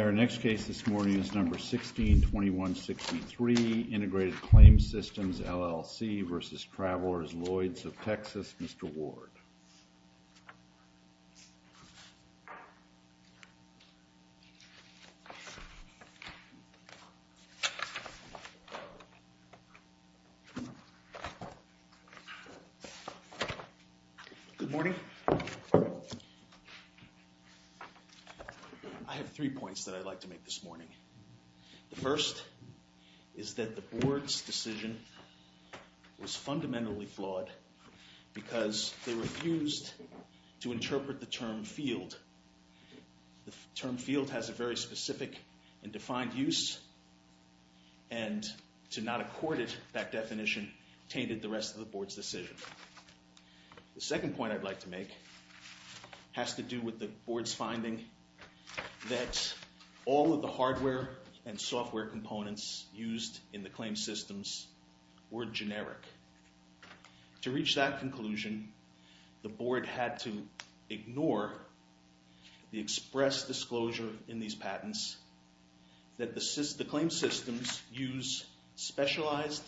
Our next case this morning is number 16-2163, Integrated Claims Systems, LLC versus Travelers Lloyds of Texas, Mr. Ward. Good morning. I have three points that I'd like to make this morning. The first is that the board's decision was fundamentally flawed because they refused to interpret the term field. The term field has a very specific and defined use and to not accord it that definition tainted the rest of the board's decision. The second point I'd like to make has to do with the board's finding that all of the hardware and software components used in the claims systems were generic. To reach that conclusion, the board had to ignore the express disclosure in these patents that the claim systems use specialized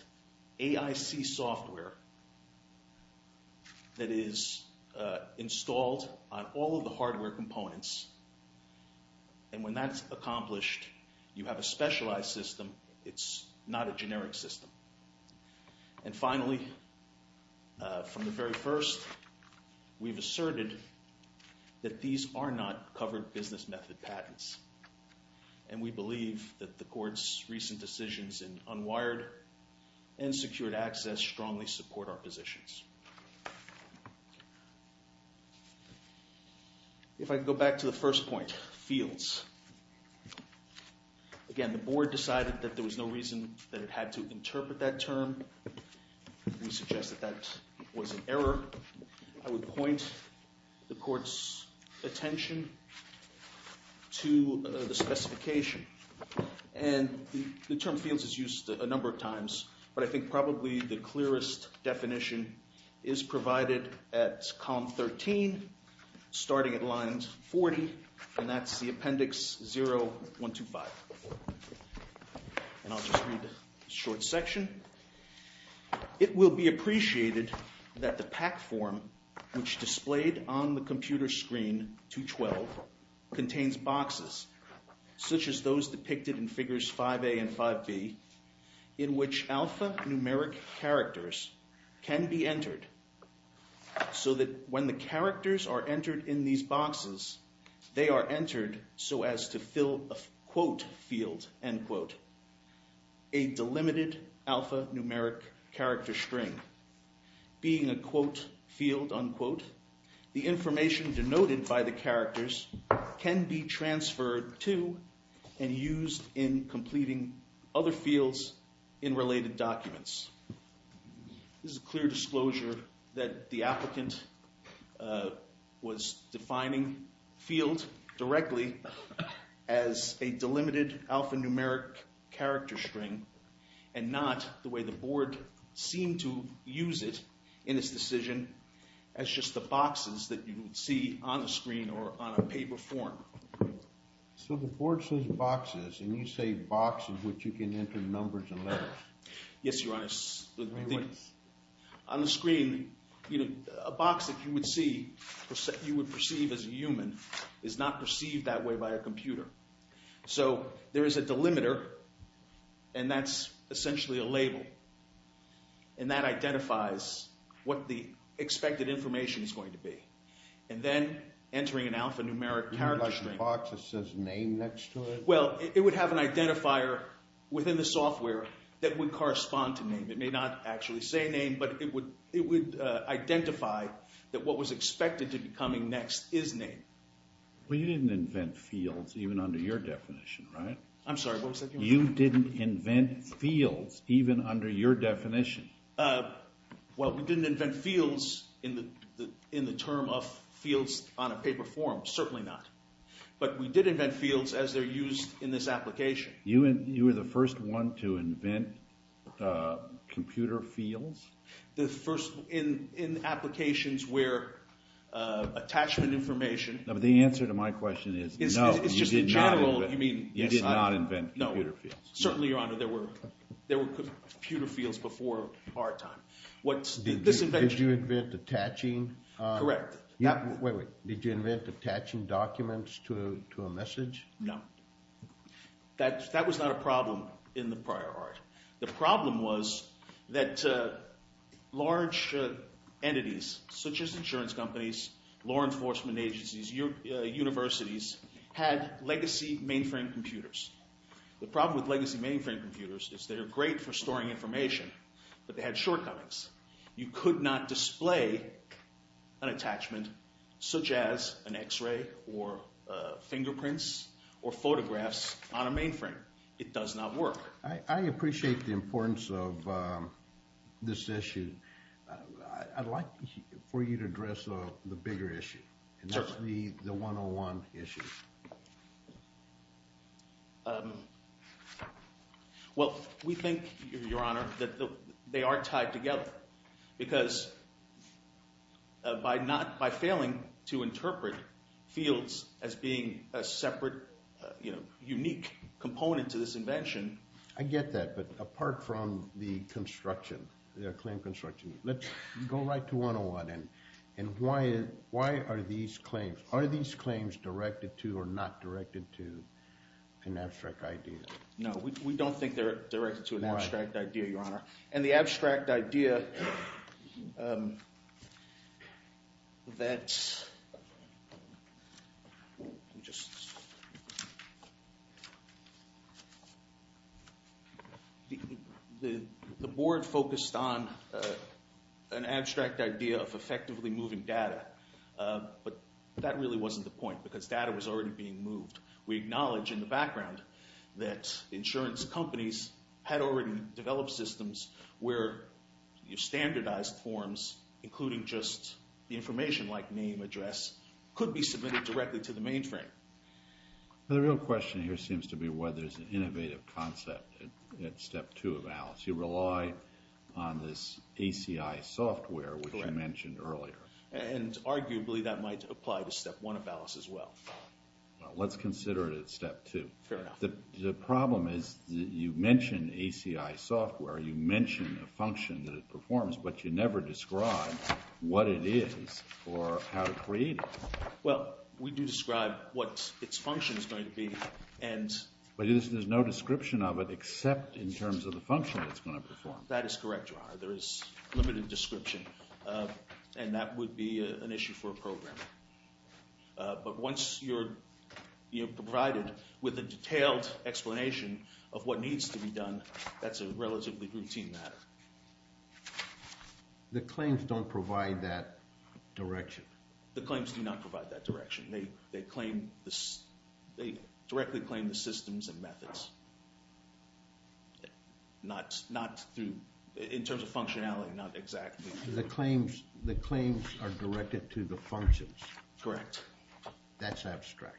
AIC software that is installed on all of the hardware components. And when that's accomplished, you have a specialized system. It's not a generic system. And finally, from the very first, we've asserted that these are not covered business method patents. And we believe that the court's recent decisions in unwired and secured access strongly support our positions. If I could go back to the first point, fields. Again, the board decided that there was no reason that it had to interpret that term. We suggest that that was an error. I would point the court's attention to the specification. And the term fields is used a number of times, but I think probably the clearest definition is provided at column 13, starting at line 40. And that's the appendix 0125. And I'll just read a short section. It will be appreciated that the PAC form, which displayed on the computer screen 212, contains boxes, such as those depicted in figures 5A and 5B, in which alphanumeric characters can be entered so that when the characters are entered in these boxes, they are entered so as to fill a quote field, end quote, a delimited alphanumeric character string. Being a quote field, unquote, the information denoted by the characters can be transferred to and used in completing other fields in related documents. This is a clear disclosure that the applicant was defining field directly as a delimited alphanumeric character string and not the way the board seemed to use it in its decision as just the boxes that you would see on the screen or on a paper form. So the board says boxes, and you say boxes in which you can enter numbers and letters. Yes, Your Honor. On the screen, a box that you would see, you would perceive as a human, is not perceived that way by a computer. So there is a delimiter, and that's essentially a label, and that identifies what the expected information is going to be. And then, entering an alphanumeric character string… You mean like a box that says name next to it? Well, it would have an identifier within the software that would correspond to name. It may not actually say name, but it would identify that what was expected to be coming next is name. Well, you didn't invent fields even under your definition, right? I'm sorry, what was that, Your Honor? You didn't invent fields even under your definition. Well, we didn't invent fields in the term of fields on a paper form, certainly not. But we did invent fields as they're used in this application. You were the first one to invent computer fields? The first in applications where attachment information… No, but the answer to my question is no, you did not invent computer fields. No, certainly, Your Honor, there were computer fields before our time. Did you invent attaching… Correct. Wait, wait, did you invent attaching documents to a message? No. That was not a problem in the prior art. The problem was that large entities such as insurance companies, law enforcement agencies, universities had legacy mainframe computers. The problem with legacy mainframe computers is they're great for storing information, but they had shortcomings. You could not display an attachment such as an X-ray or fingerprints or photographs on a mainframe. It does not work. I appreciate the importance of this issue. I'd like for you to address the bigger issue, and that's the 101 issue. Well, we think, Your Honor, that they are tied together because by failing to interpret fields as being a separate, unique component to this invention… I get that, but apart from the construction, the claim construction, let's go right to 101. Why are these claims directed to or not directed to an abstract idea? No, we don't think they're directed to an abstract idea, Your Honor. The board focused on an abstract idea of effectively moving data, but that really wasn't the point because data was already being moved. We acknowledge in the background that insurance companies had already developed systems where standardized forms, including just the information like name, address, could be submitted directly to the mainframe. The real question here seems to be whether it's an innovative concept at Step 2 of ALICE. You rely on this ACI software, which you mentioned earlier. And arguably that might apply to Step 1 of ALICE as well. Well, let's consider it at Step 2. Fair enough. The problem is that you mention ACI software, you mention a function that it performs, but you never describe what it is or how to create it. Well, we do describe what its function is going to be, and… But there's no description of it except in terms of the function that it's going to perform. That is correct, Your Honor. There is limited description, and that would be an issue for a program. But once you're provided with a detailed explanation of what needs to be done, that's a relatively routine matter. The claims don't provide that direction. The claims do not provide that direction. They directly claim the systems and methods, in terms of functionality, not exactly. The claims are directed to the functions. Correct. That's abstract.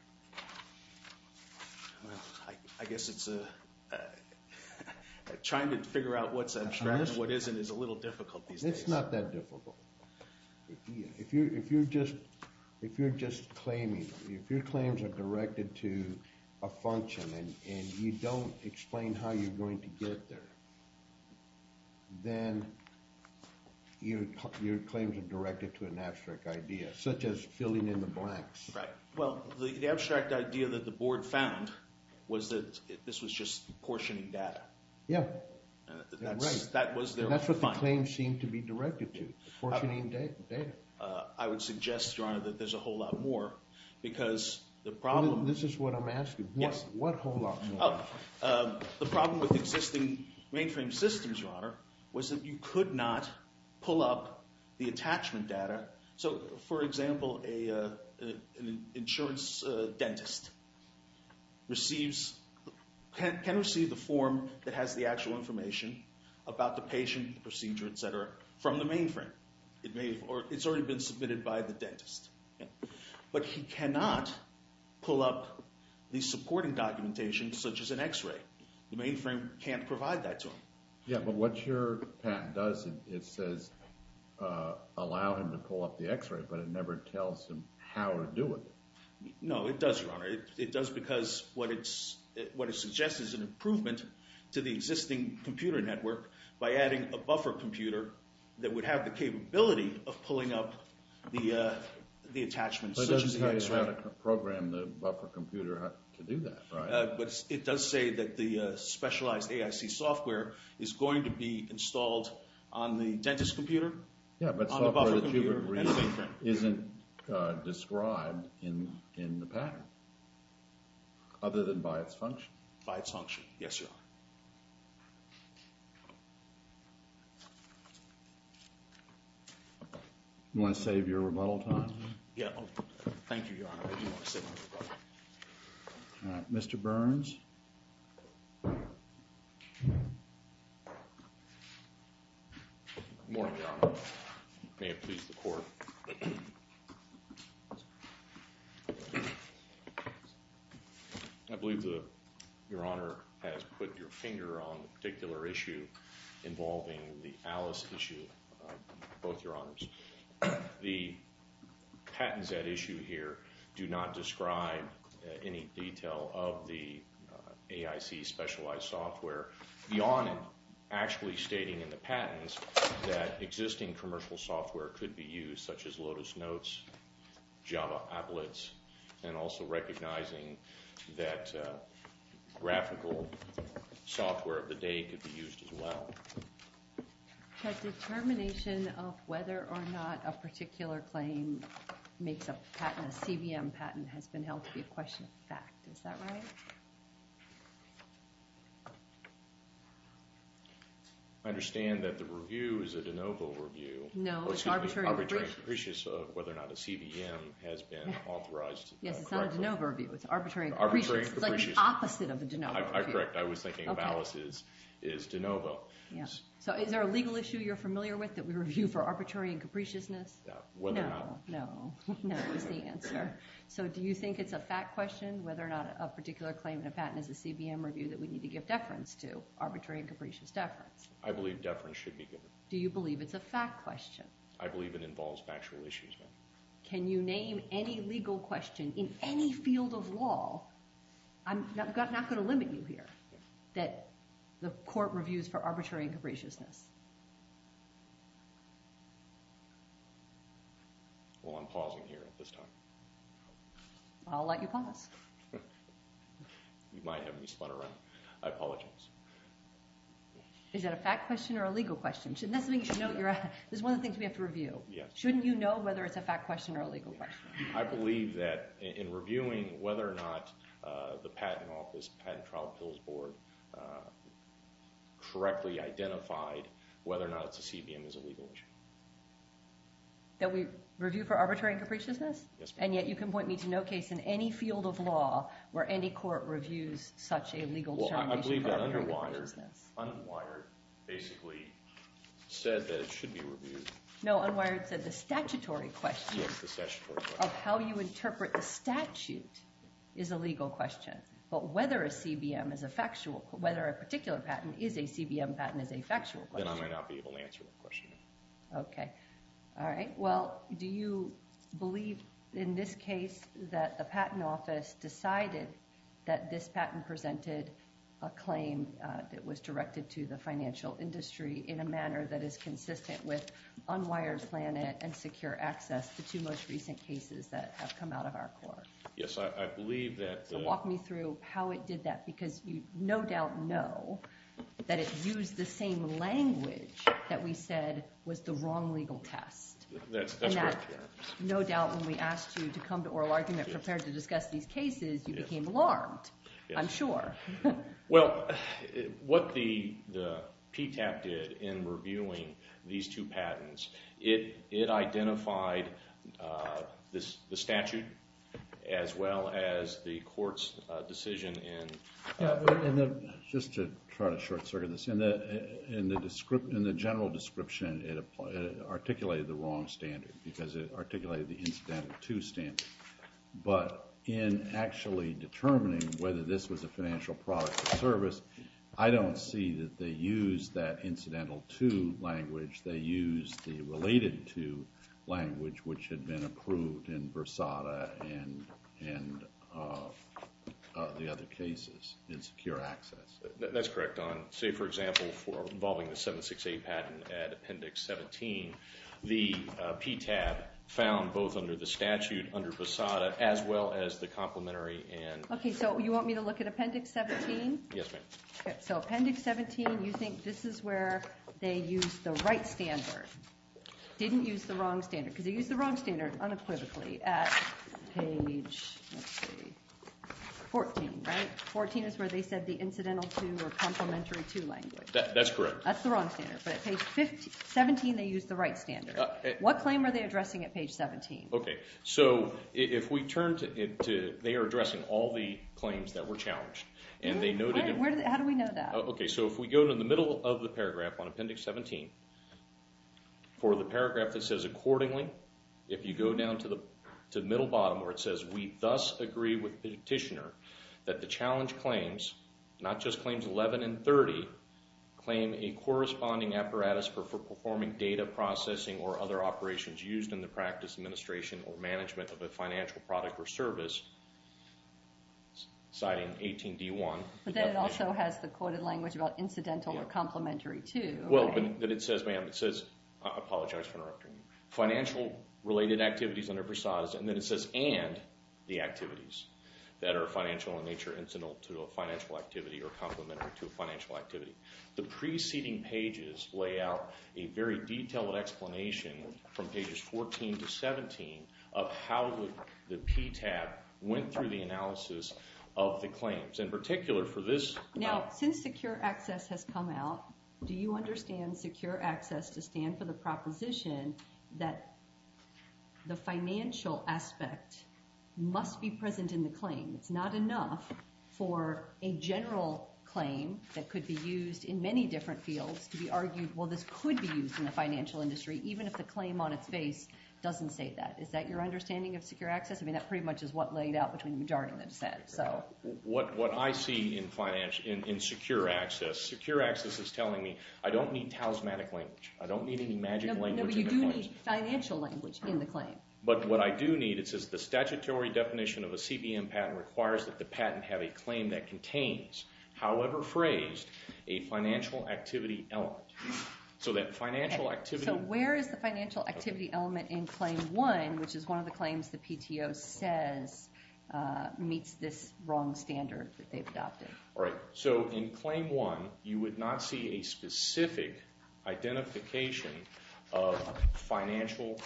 Well, I guess it's a… Trying to figure out what's abstract and what isn't is a little difficult these days. It's not that difficult. If you're just claiming, if your claims are directed to a function and you don't explain how you're going to get there, then your claims are directed to an abstract idea, such as filling in the blanks. Right. Well, the abstract idea that the board found was that this was just portioning data. Yeah. That's what the claims seem to be directed to, portioning data. I would suggest, Your Honor, that there's a whole lot more, because the problem… This is what I'm asking. Yes. What whole lot more? The problem with existing mainframe systems, Your Honor, was that you could not pull up the attachment data. So, for example, an insurance dentist can receive the form that has the actual information about the patient, the procedure, etc., from the mainframe. It's already been submitted by the dentist. But he cannot pull up the supporting documentation, such as an X-ray. The mainframe can't provide that to him. Yeah, but what your patent does, it says allow him to pull up the X-ray, but it never tells him how to do it. It does because what it suggests is an improvement to the existing computer network by adding a buffer computer that would have the capability of pulling up the attachments, such as the X-ray. But it doesn't tell you how to program the buffer computer to do that, right? It does say that the specialized AIC software is going to be installed on the dentist's computer, on the buffer computer. Yeah, but software that you would read isn't described in the patent. Other than by its function? By its function, yes, Your Honor. You want to save your rebuttal time? Yeah, thank you, Your Honor. I do want to save my rebuttal time. All right, Mr. Burns? Good morning, Your Honor. May it please the Court. I believe Your Honor has put your finger on a particular issue involving the Alice issue, both Your Honors. The patents at issue here do not describe any detail of the AIC specialized software, beyond actually stating in the patents that existing commercial software could be used, such as Lotus Notes, Java Applets, and also recognizing that graphical software of the day could be used as well. The determination of whether or not a particular claim makes a patent, a CBM patent, has been held to be a question of fact. Is that right? I understand that the review is a de novo review. No, it's arbitrary and capricious. Arbitrary and capricious of whether or not a CBM has been authorized. Yes, it's not a de novo review. It's arbitrary and capricious. Arbitrary and capricious. It's like the opposite of a de novo review. Correct. I was thinking of Alice as de novo. So is there a legal issue you're familiar with that we review for arbitrary and capriciousness? No. Whether or not. No. No is the answer. So do you think it's a fact question whether or not a particular claim in a patent is a CBM review that we need to give deference to? Arbitrary and capricious deference. I believe deference should be given. Do you believe it's a fact question? I believe it involves factual issues, ma'am. Can you name any legal question in any field of law? I'm not going to limit you here that the court reviews for arbitrary and capriciousness. Well, I'm pausing here at this time. I'll let you pause. You might have me spun around. I apologize. Is that a fact question or a legal question? This is one of the things we have to review. Shouldn't you know whether it's a fact question or a legal question? I believe that in reviewing whether or not the patent office, the patent trial appeals board, correctly identified whether or not it's a CBM is a legal issue. That we review for arbitrary and capriciousness? Yes, ma'am. And yet you can point me to no case in any field of law where any court reviews such a legal determination for arbitrary and capriciousness. I believe that Unwired basically said that it should be reviewed. No, Unwired said the statutory question of how you interpret the statute is a legal question. But whether a particular patent is a CBM patent is a factual question. Then I might not be able to answer that question. Okay. All right. Well, do you believe in this case that the patent office decided that this patent presented a claim that was directed to the financial industry in a manner that is consistent with Unwired Planet and secure access to two most recent cases that have come out of our court? Yes, I believe that. So walk me through how it did that because you no doubt know that it used the same language that we said was the wrong legal test. That's correct, yeah. And that no doubt when we asked you to come to oral argument prepared to discuss these cases, you became alarmed, I'm sure. Well, what the PTAP did in reviewing these two patents, it identified the statute as well as the court's decision in… I don't see that they used that incidental to language. They used the related to language, which had been approved in Versada and the other cases in secure access. That's correct. Say, for example, for involving the 768 patent at Appendix 17, the PTAP found both under the statute, under Versada, as well as the complementary and… Okay, so you want me to look at Appendix 17? Yes, ma'am. Okay, so Appendix 17, you think this is where they used the right standard. Didn't use the wrong standard because they used the wrong standard unequivocally at page, let's see, 14, right? 14 is where they said the incidental to or complementary to language. That's correct. That's the wrong standard. But at page 17, they used the right standard. What claim are they addressing at page 17? Okay, so if we turn to…they are addressing all the claims that were challenged, and they noted… How do we know that? Okay, so if we go to the middle of the paragraph on Appendix 17, for the paragraph that says accordingly, if you go down to the middle bottom where it says, we thus agree with the petitioner that the challenge claims, not just claims 11 and 30, claim a corresponding apparatus for performing data processing or other operations used in the practice, administration, or management of a financial product or service, citing 18D1. But then it also has the quoted language about incidental or complementary to. Well, but it says, ma'am, it says, I apologize for interrupting you, financial-related activities under PSAS, and then it says, and the activities that are financial in nature, incidental to a financial activity or complementary to a financial activity. The preceding pages lay out a very detailed explanation from pages 14 to 17 of how the PTAB went through the analysis of the claims. In particular, for this… Now, since secure access has come out, do you understand secure access to stand for the proposition that the financial aspect must be present in the claim? It's not enough for a general claim that could be used in many different fields to be argued, well, this could be used in the financial industry, even if the claim on its face doesn't say that. Is that your understanding of secure access? I mean, that pretty much is what laid out between the majority and the dissent, so… What I see in finance, in secure access, secure access is telling me I don't need talismanic language, I don't need any magic language… No, but you do need financial language in the claim. But what I do need, it says the statutory definition of a CPM patent requires that the patent have a claim that contains, however phrased, a financial activity element. So that financial activity… Right, so in Claim 1, you would not see a specific identification of financial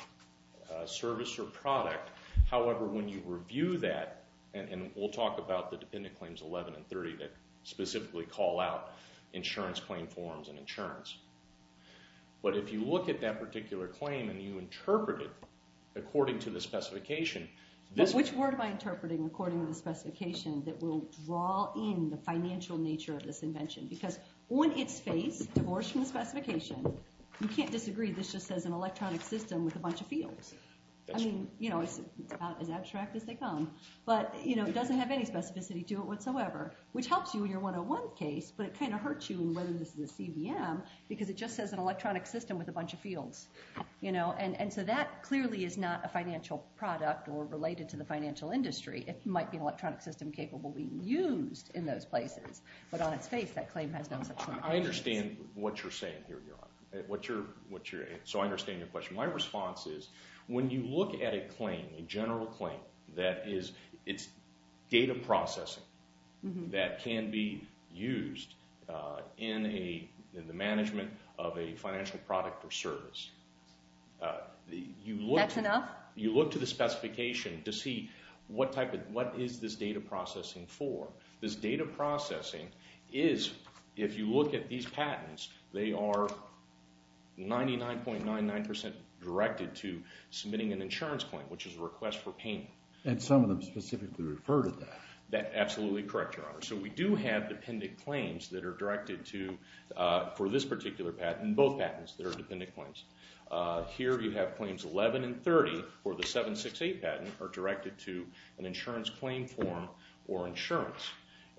service or product. However, when you review that, and we'll talk about the Dependent Claims 11 and 30 that specifically call out insurance claim forms and insurance. But if you look at that particular claim and you interpret it according to the specification… Which word am I interpreting according to the specification that will draw in the financial nature of this invention? Because on its face, divorced from the specification, you can't disagree this just says an electronic system with a bunch of fields. I mean, you know, it's about as abstract as they come. But, you know, it doesn't have any specificity to it whatsoever, which helps you in your 101 case, but it kind of hurts you in whether this is a CBM because it just says an electronic system with a bunch of fields. You know, and so that clearly is not a financial product or related to the financial industry. It might be an electronic system capable of being used in those places. But on its face, that claim has no such limitations. I understand what you're saying here, Your Honor. So I understand your question. My response is when you look at a claim, a general claim, that is it's data processing that can be used in the management of a financial product or service. That's enough? You look to the specification to see what type of – what is this data processing for? This data processing is, if you look at these patents, they are 99.99% directed to submitting an insurance claim, which is a request for payment. And some of them specifically refer to that. Absolutely correct, Your Honor. So we do have dependent claims that are directed to – for this particular patent and both patents that are dependent claims. Here you have claims 11 and 30 for the 768 patent are directed to an insurance claim form or insurance.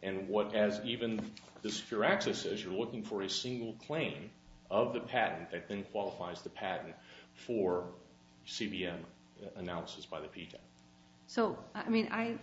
And what – as even the secure access says, you're looking for a single claim of the patent that then qualifies the patent for CBM analysis by the PTAC. So, I mean, I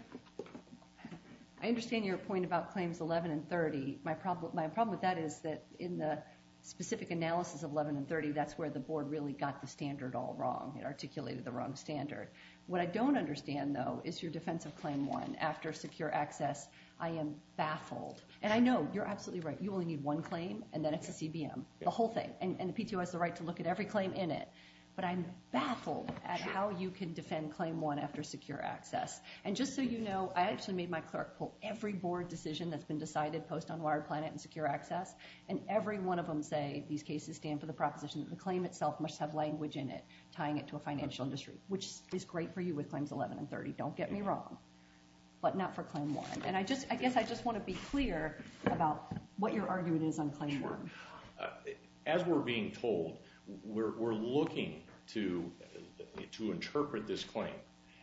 understand your point about claims 11 and 30. My problem with that is that in the specific analysis of 11 and 30, that's where the board really got the standard all wrong. It articulated the wrong standard. What I don't understand, though, is your defense of Claim 1 after secure access. I am baffled. And I know you're absolutely right. You only need one claim, and then it's a CBM, the whole thing. And the PTO has the right to look at every claim in it. But I'm baffled at how you can defend Claim 1 after secure access. And just so you know, I actually made my clerk pull every board decision that's been decided post-Unwired Planet and secure access, and every one of them say these cases stand for the proposition that the claim itself must have language in it tying it to a financial industry, which is great for you with claims 11 and 30, don't get me wrong, but not for Claim 1. And I just – I guess I just want to be clear about what your argument is on Claim 1. As we're being told, we're looking to interpret this claim.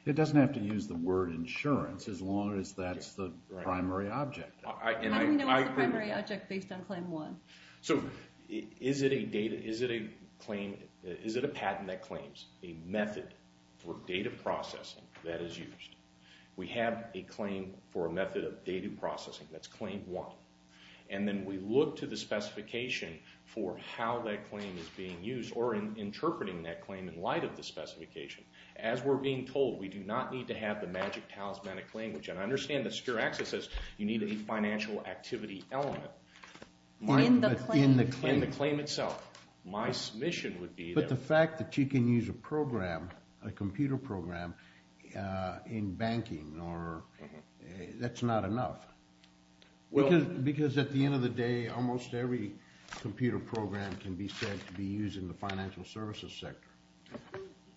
It doesn't have to use the word insurance as long as that's the primary object. How do we know it's the primary object based on Claim 1? So is it a data – is it a claim – is it a patent that claims a method for data processing that is used? We have a claim for a method of data processing. That's Claim 1. And then we look to the specification for how that claim is being used or interpreting that claim in light of the specification. As we're being told, we do not need to have the magic talismanic language. And I understand that secure access says you need a financial activity element. In the claim. In the claim itself. My submission would be that – But the fact that you can use a program, a computer program, in banking or – that's not enough. Because at the end of the day, almost every computer program can be said to be used in the financial services sector.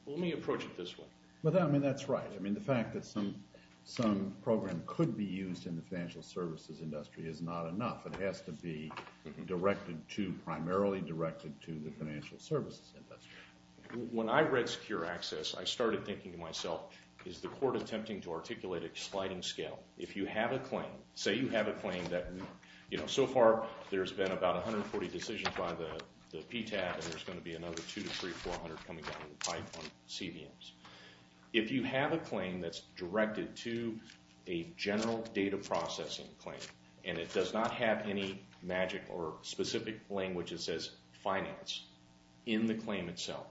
Well, let me approach it this way. I mean, that's right. I mean, the fact that some program could be used in the financial services industry is not enough. It has to be directed to – primarily directed to the financial services industry. When I read secure access, I started thinking to myself, is the court attempting to articulate a sliding scale? If you have a claim – say you have a claim that, you know, so far there's been about 140 decisions by the PTAC and there's going to be another 200 to 300, 400 coming down the pipe on CBMs. If you have a claim that's directed to a general data processing claim and it does not have any magic or specific language that says finance in the claim itself,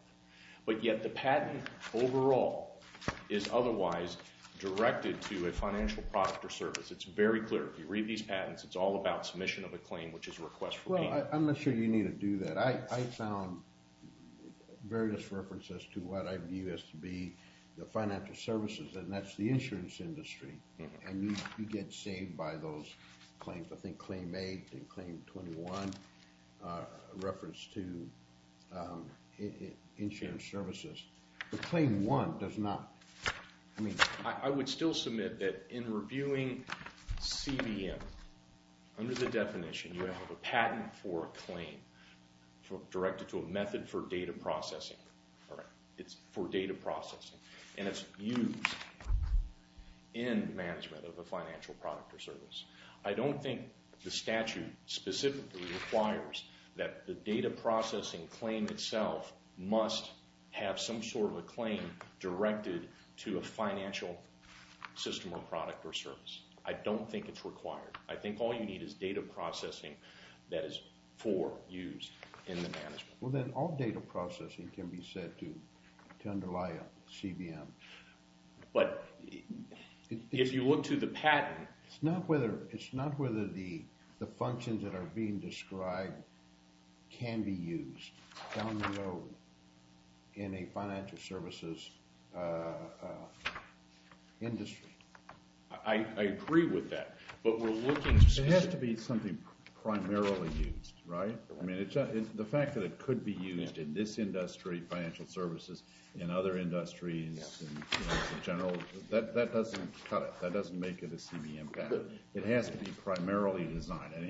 but yet the patent overall is otherwise directed to a financial product or service, it's very clear. If you read these patents, it's all about submission of a claim, which is a request for payment. Well, I'm not sure you need to do that. I found various references to what I view as to be the financial services, and that's the insurance industry. And you get saved by those claims. I think Claim 8 and Claim 21 reference to insurance services. But Claim 1 does not. I would still submit that in reviewing CBM, under the definition you have a patent for a claim directed to a method for data processing. It's for data processing, and it's used in management of a financial product or service. I don't think the statute specifically requires that the data processing claim itself must have some sort of a claim directed to a financial system or product or service. I don't think it's required. I think all you need is data processing that is for use in the management. Well, then all data processing can be said to underlie a CBM. But if you look to the patent… It's not whether the functions that are being described can be used down the road in a financial services industry. I agree with that, but we're looking specifically… It has to be something primarily used, right? I mean, the fact that it could be used in this industry, financial services, in other industries, in general, that doesn't cut it. It has to be primarily designed. And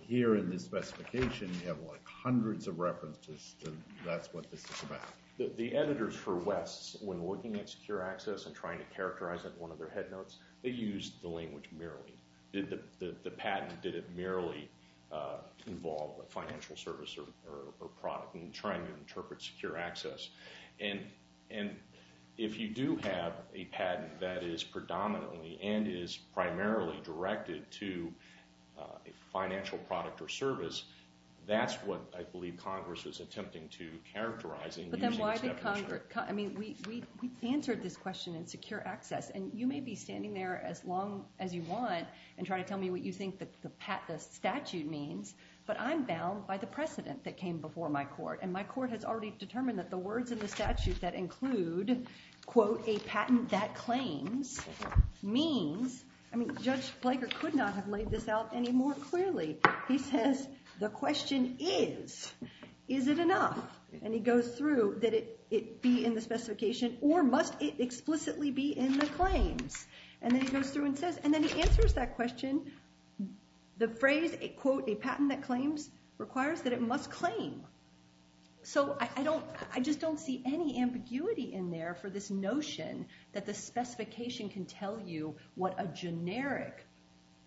here in this specification, you have, like, hundreds of references that that's what this is about. The editors for West, when looking at secure access and trying to characterize it in one of their headnotes, they used the language merely. The patent, did it merely involve a financial service or product in trying to interpret secure access? And if you do have a patent that is predominantly and is primarily directed to a financial product or service, that's what I believe Congress is attempting to characterize in using this definition. But then why did Congress… I mean, we answered this question in secure access, and you may be standing there as long as you want and trying to tell me what you think the statute means, but I'm bound by the precedent that came before my court. And my court has already determined that the words in the statute that include, quote, a patent that claims, means… I mean, Judge Blager could not have laid this out any more clearly. He says, the question is, is it enough? And he goes through, did it be in the specification or must it explicitly be in the claims? And then he goes through and says, and then he answers that question, the phrase, quote, a patent that claims requires that it must claim. So I just don't see any ambiguity in there for this notion that the specification can tell you what a generic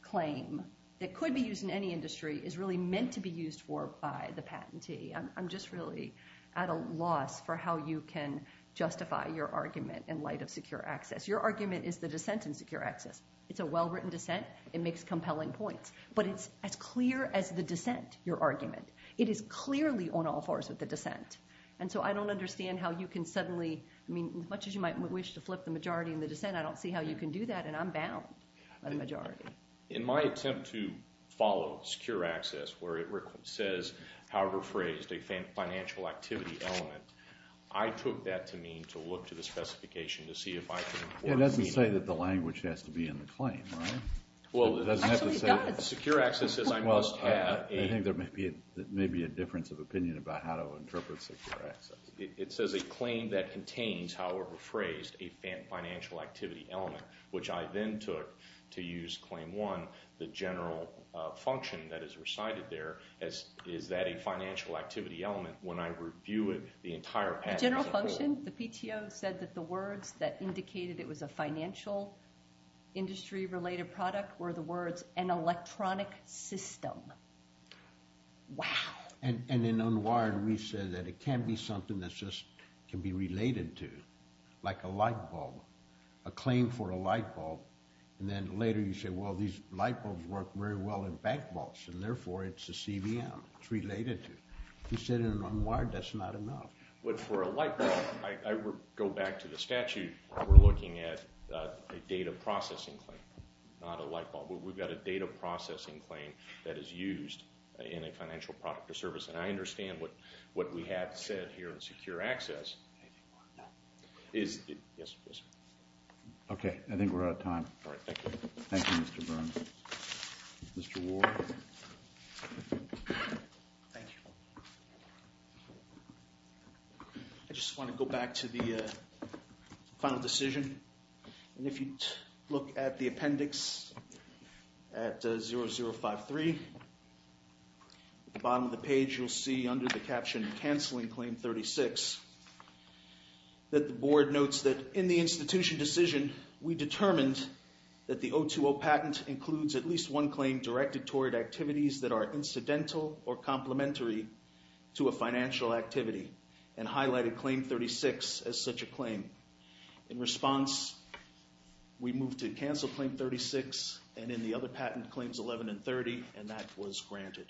claim that could be used in any industry is really meant to be used for by the patentee. I'm just really at a loss for how you can justify your argument in light of secure access. Your argument is the dissent in secure access. It's a well-written dissent. It makes compelling points. But it's as clear as the dissent, your argument. It is clearly on all fours with the dissent. And so I don't understand how you can suddenly – I mean, as much as you might wish to flip the majority in the dissent, I don't see how you can do that, and I'm bound by the majority. In my attempt to follow secure access, where it says, however phrased, a financial activity element, I took that to mean to look to the specification to see if I can – It doesn't say that the language has to be in the claim, right? Well, it doesn't have to say – Secure access says I must have a – Well, I think there may be a difference of opinion about how to interpret secure access. It says a claim that contains, however phrased, a financial activity element, which I then took to use Claim 1, the general function that is recited there. Is that a financial activity element? When I review it, the entire package is included. The general function? The PTO said that the words that indicated it was a financial industry-related product were the words an electronic system. Wow. And in UNWIRED, we said that it can be something that just can be related to, like a light bulb, a claim for a light bulb. And then later you say, well, these light bulbs work very well in bank vaults, and therefore it's a CVM. It's related to. You said in UNWIRED that's not enough. But for a light bulb, I go back to the statute. We're looking at a data processing claim, not a light bulb. We've got a data processing claim that is used in a financial product or service. And I understand what we have said here in secure access. Anything more? No. Yes, please. Okay. I think we're out of time. All right. Thank you. Thank you, Mr. Burns. Mr. Ward? Thank you. I just want to go back to the final decision. And if you look at the appendix at 0053, at the bottom of the page, you'll see under the caption, Canceling Claim 36, that the board notes that in the institution decision, we determined that the 020 patent includes at least one claim directed toward activities that are incidental or complementary to a financial activity and highlighted Claim 36 as such a claim. In response, we moved to Cancel Claim 36, and in the other patent, Claims 11 and 30, and that was granted.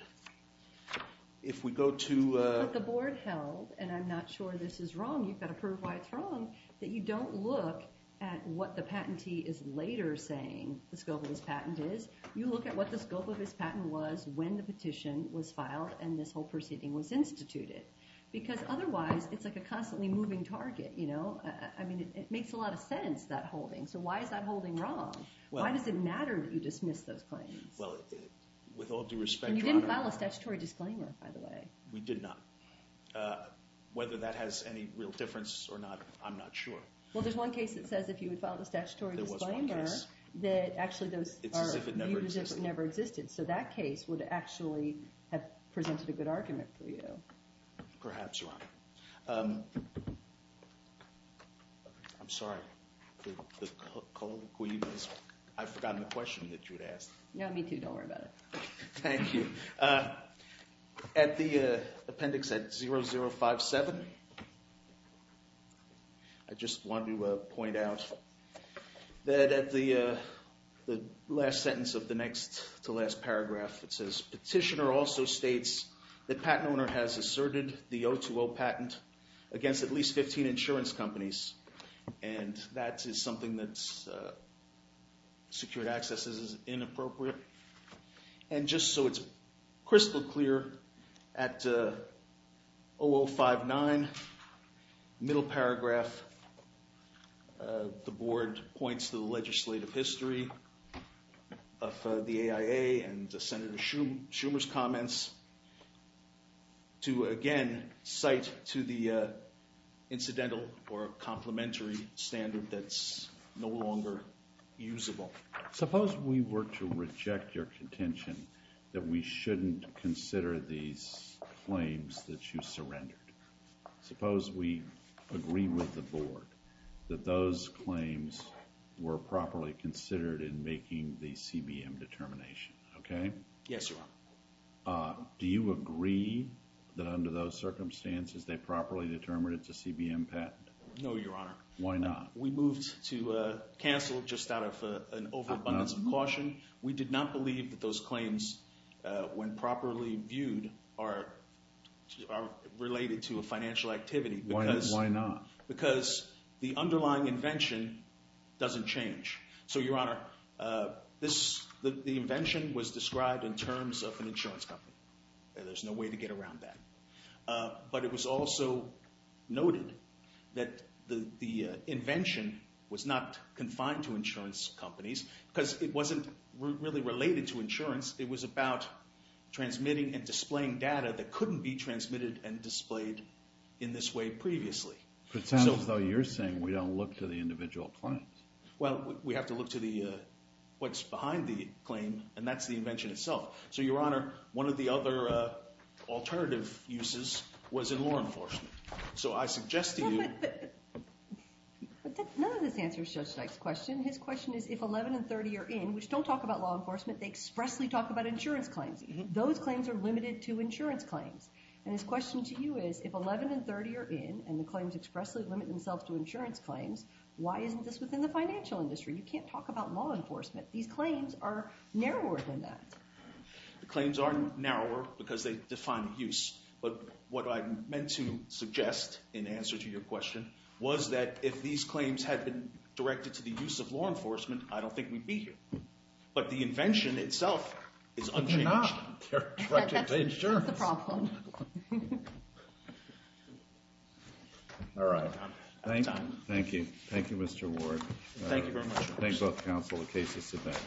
If we go to... But the board held, and I'm not sure this is wrong, you've got to prove why it's wrong, that you don't look at what the patentee is later saying the scope of his patent is. You look at what the scope of his patent was when the petition was filed and this whole proceeding was instituted. Because otherwise, it's like a constantly moving target, you know? I mean, it makes a lot of sense, that holding. So why is that holding wrong? Why does it matter that you dismiss those claims? Well, with all due respect, Your Honor... And you didn't file a statutory disclaimer, by the way. We did not. Whether that has any real difference or not, I'm not sure. Well, there's one case that says if you would file a statutory disclaimer... There was one case. ...that actually those are... It's as if it never existed. So that case would actually have presented a good argument for you. Perhaps, Your Honor. I'm sorry. I forgot the question that you had asked. No, me too. Don't worry about it. Thank you. At the appendix at 0057, I just want to point out that at the last sentence of the next to last paragraph, it says, Petitioner also states that patent owner has asserted the 020 patent against at least 15 insurance companies. And that is something that's... Secured access is inappropriate. And just so it's crystal clear, at 0059, middle paragraph, the board points to the legislative history of the AIA and Senator Schumer's comments to, again, cite to the incidental or complementary standard that's no longer usable. Suppose we were to reject your contention that we shouldn't consider these claims that you surrendered. Suppose we agree with the board that those claims were properly considered in making the CBM determination. Okay? Yes, Your Honor. Do you agree that under those circumstances, they properly determined it's a CBM patent? No, Your Honor. Why not? We moved to cancel just out of an overabundance of caution. We did not believe that those claims, when properly viewed, are related to a financial activity. Why not? Because the underlying invention doesn't change. So, Your Honor, the invention was described in terms of an insurance company. There's no way to get around that. But it was also noted that the invention was not confined to insurance companies because it wasn't really related to insurance. It was about transmitting and displaying data that couldn't be transmitted and displayed in this way previously. But it sounds as though you're saying we don't look to the individual claims. Well, we have to look to what's behind the claim, and that's the invention itself. So, Your Honor, one of the other alternative uses was in law enforcement. So I suggest to you... But none of this answers Judge Dyke's question. His question is, if 11 and 30 are in, which don't talk about law enforcement, they expressly talk about insurance claims. Those claims are limited to insurance claims. And his question to you is, if 11 and 30 are in and the claims expressly limit themselves to insurance claims, why isn't this within the financial industry? You can't talk about law enforcement. These claims are narrower than that. The claims are narrower because they define use. But what I meant to suggest in answer to your question was that if these claims had been directed to the use of law enforcement, I don't think we'd be here. But the invention itself is unchanged. They're not. They're directed to insurance. That's the problem. All right. Thank you. Thank you, Mr. Ward. Thank you very much. Thank both counsel. The case is submitted.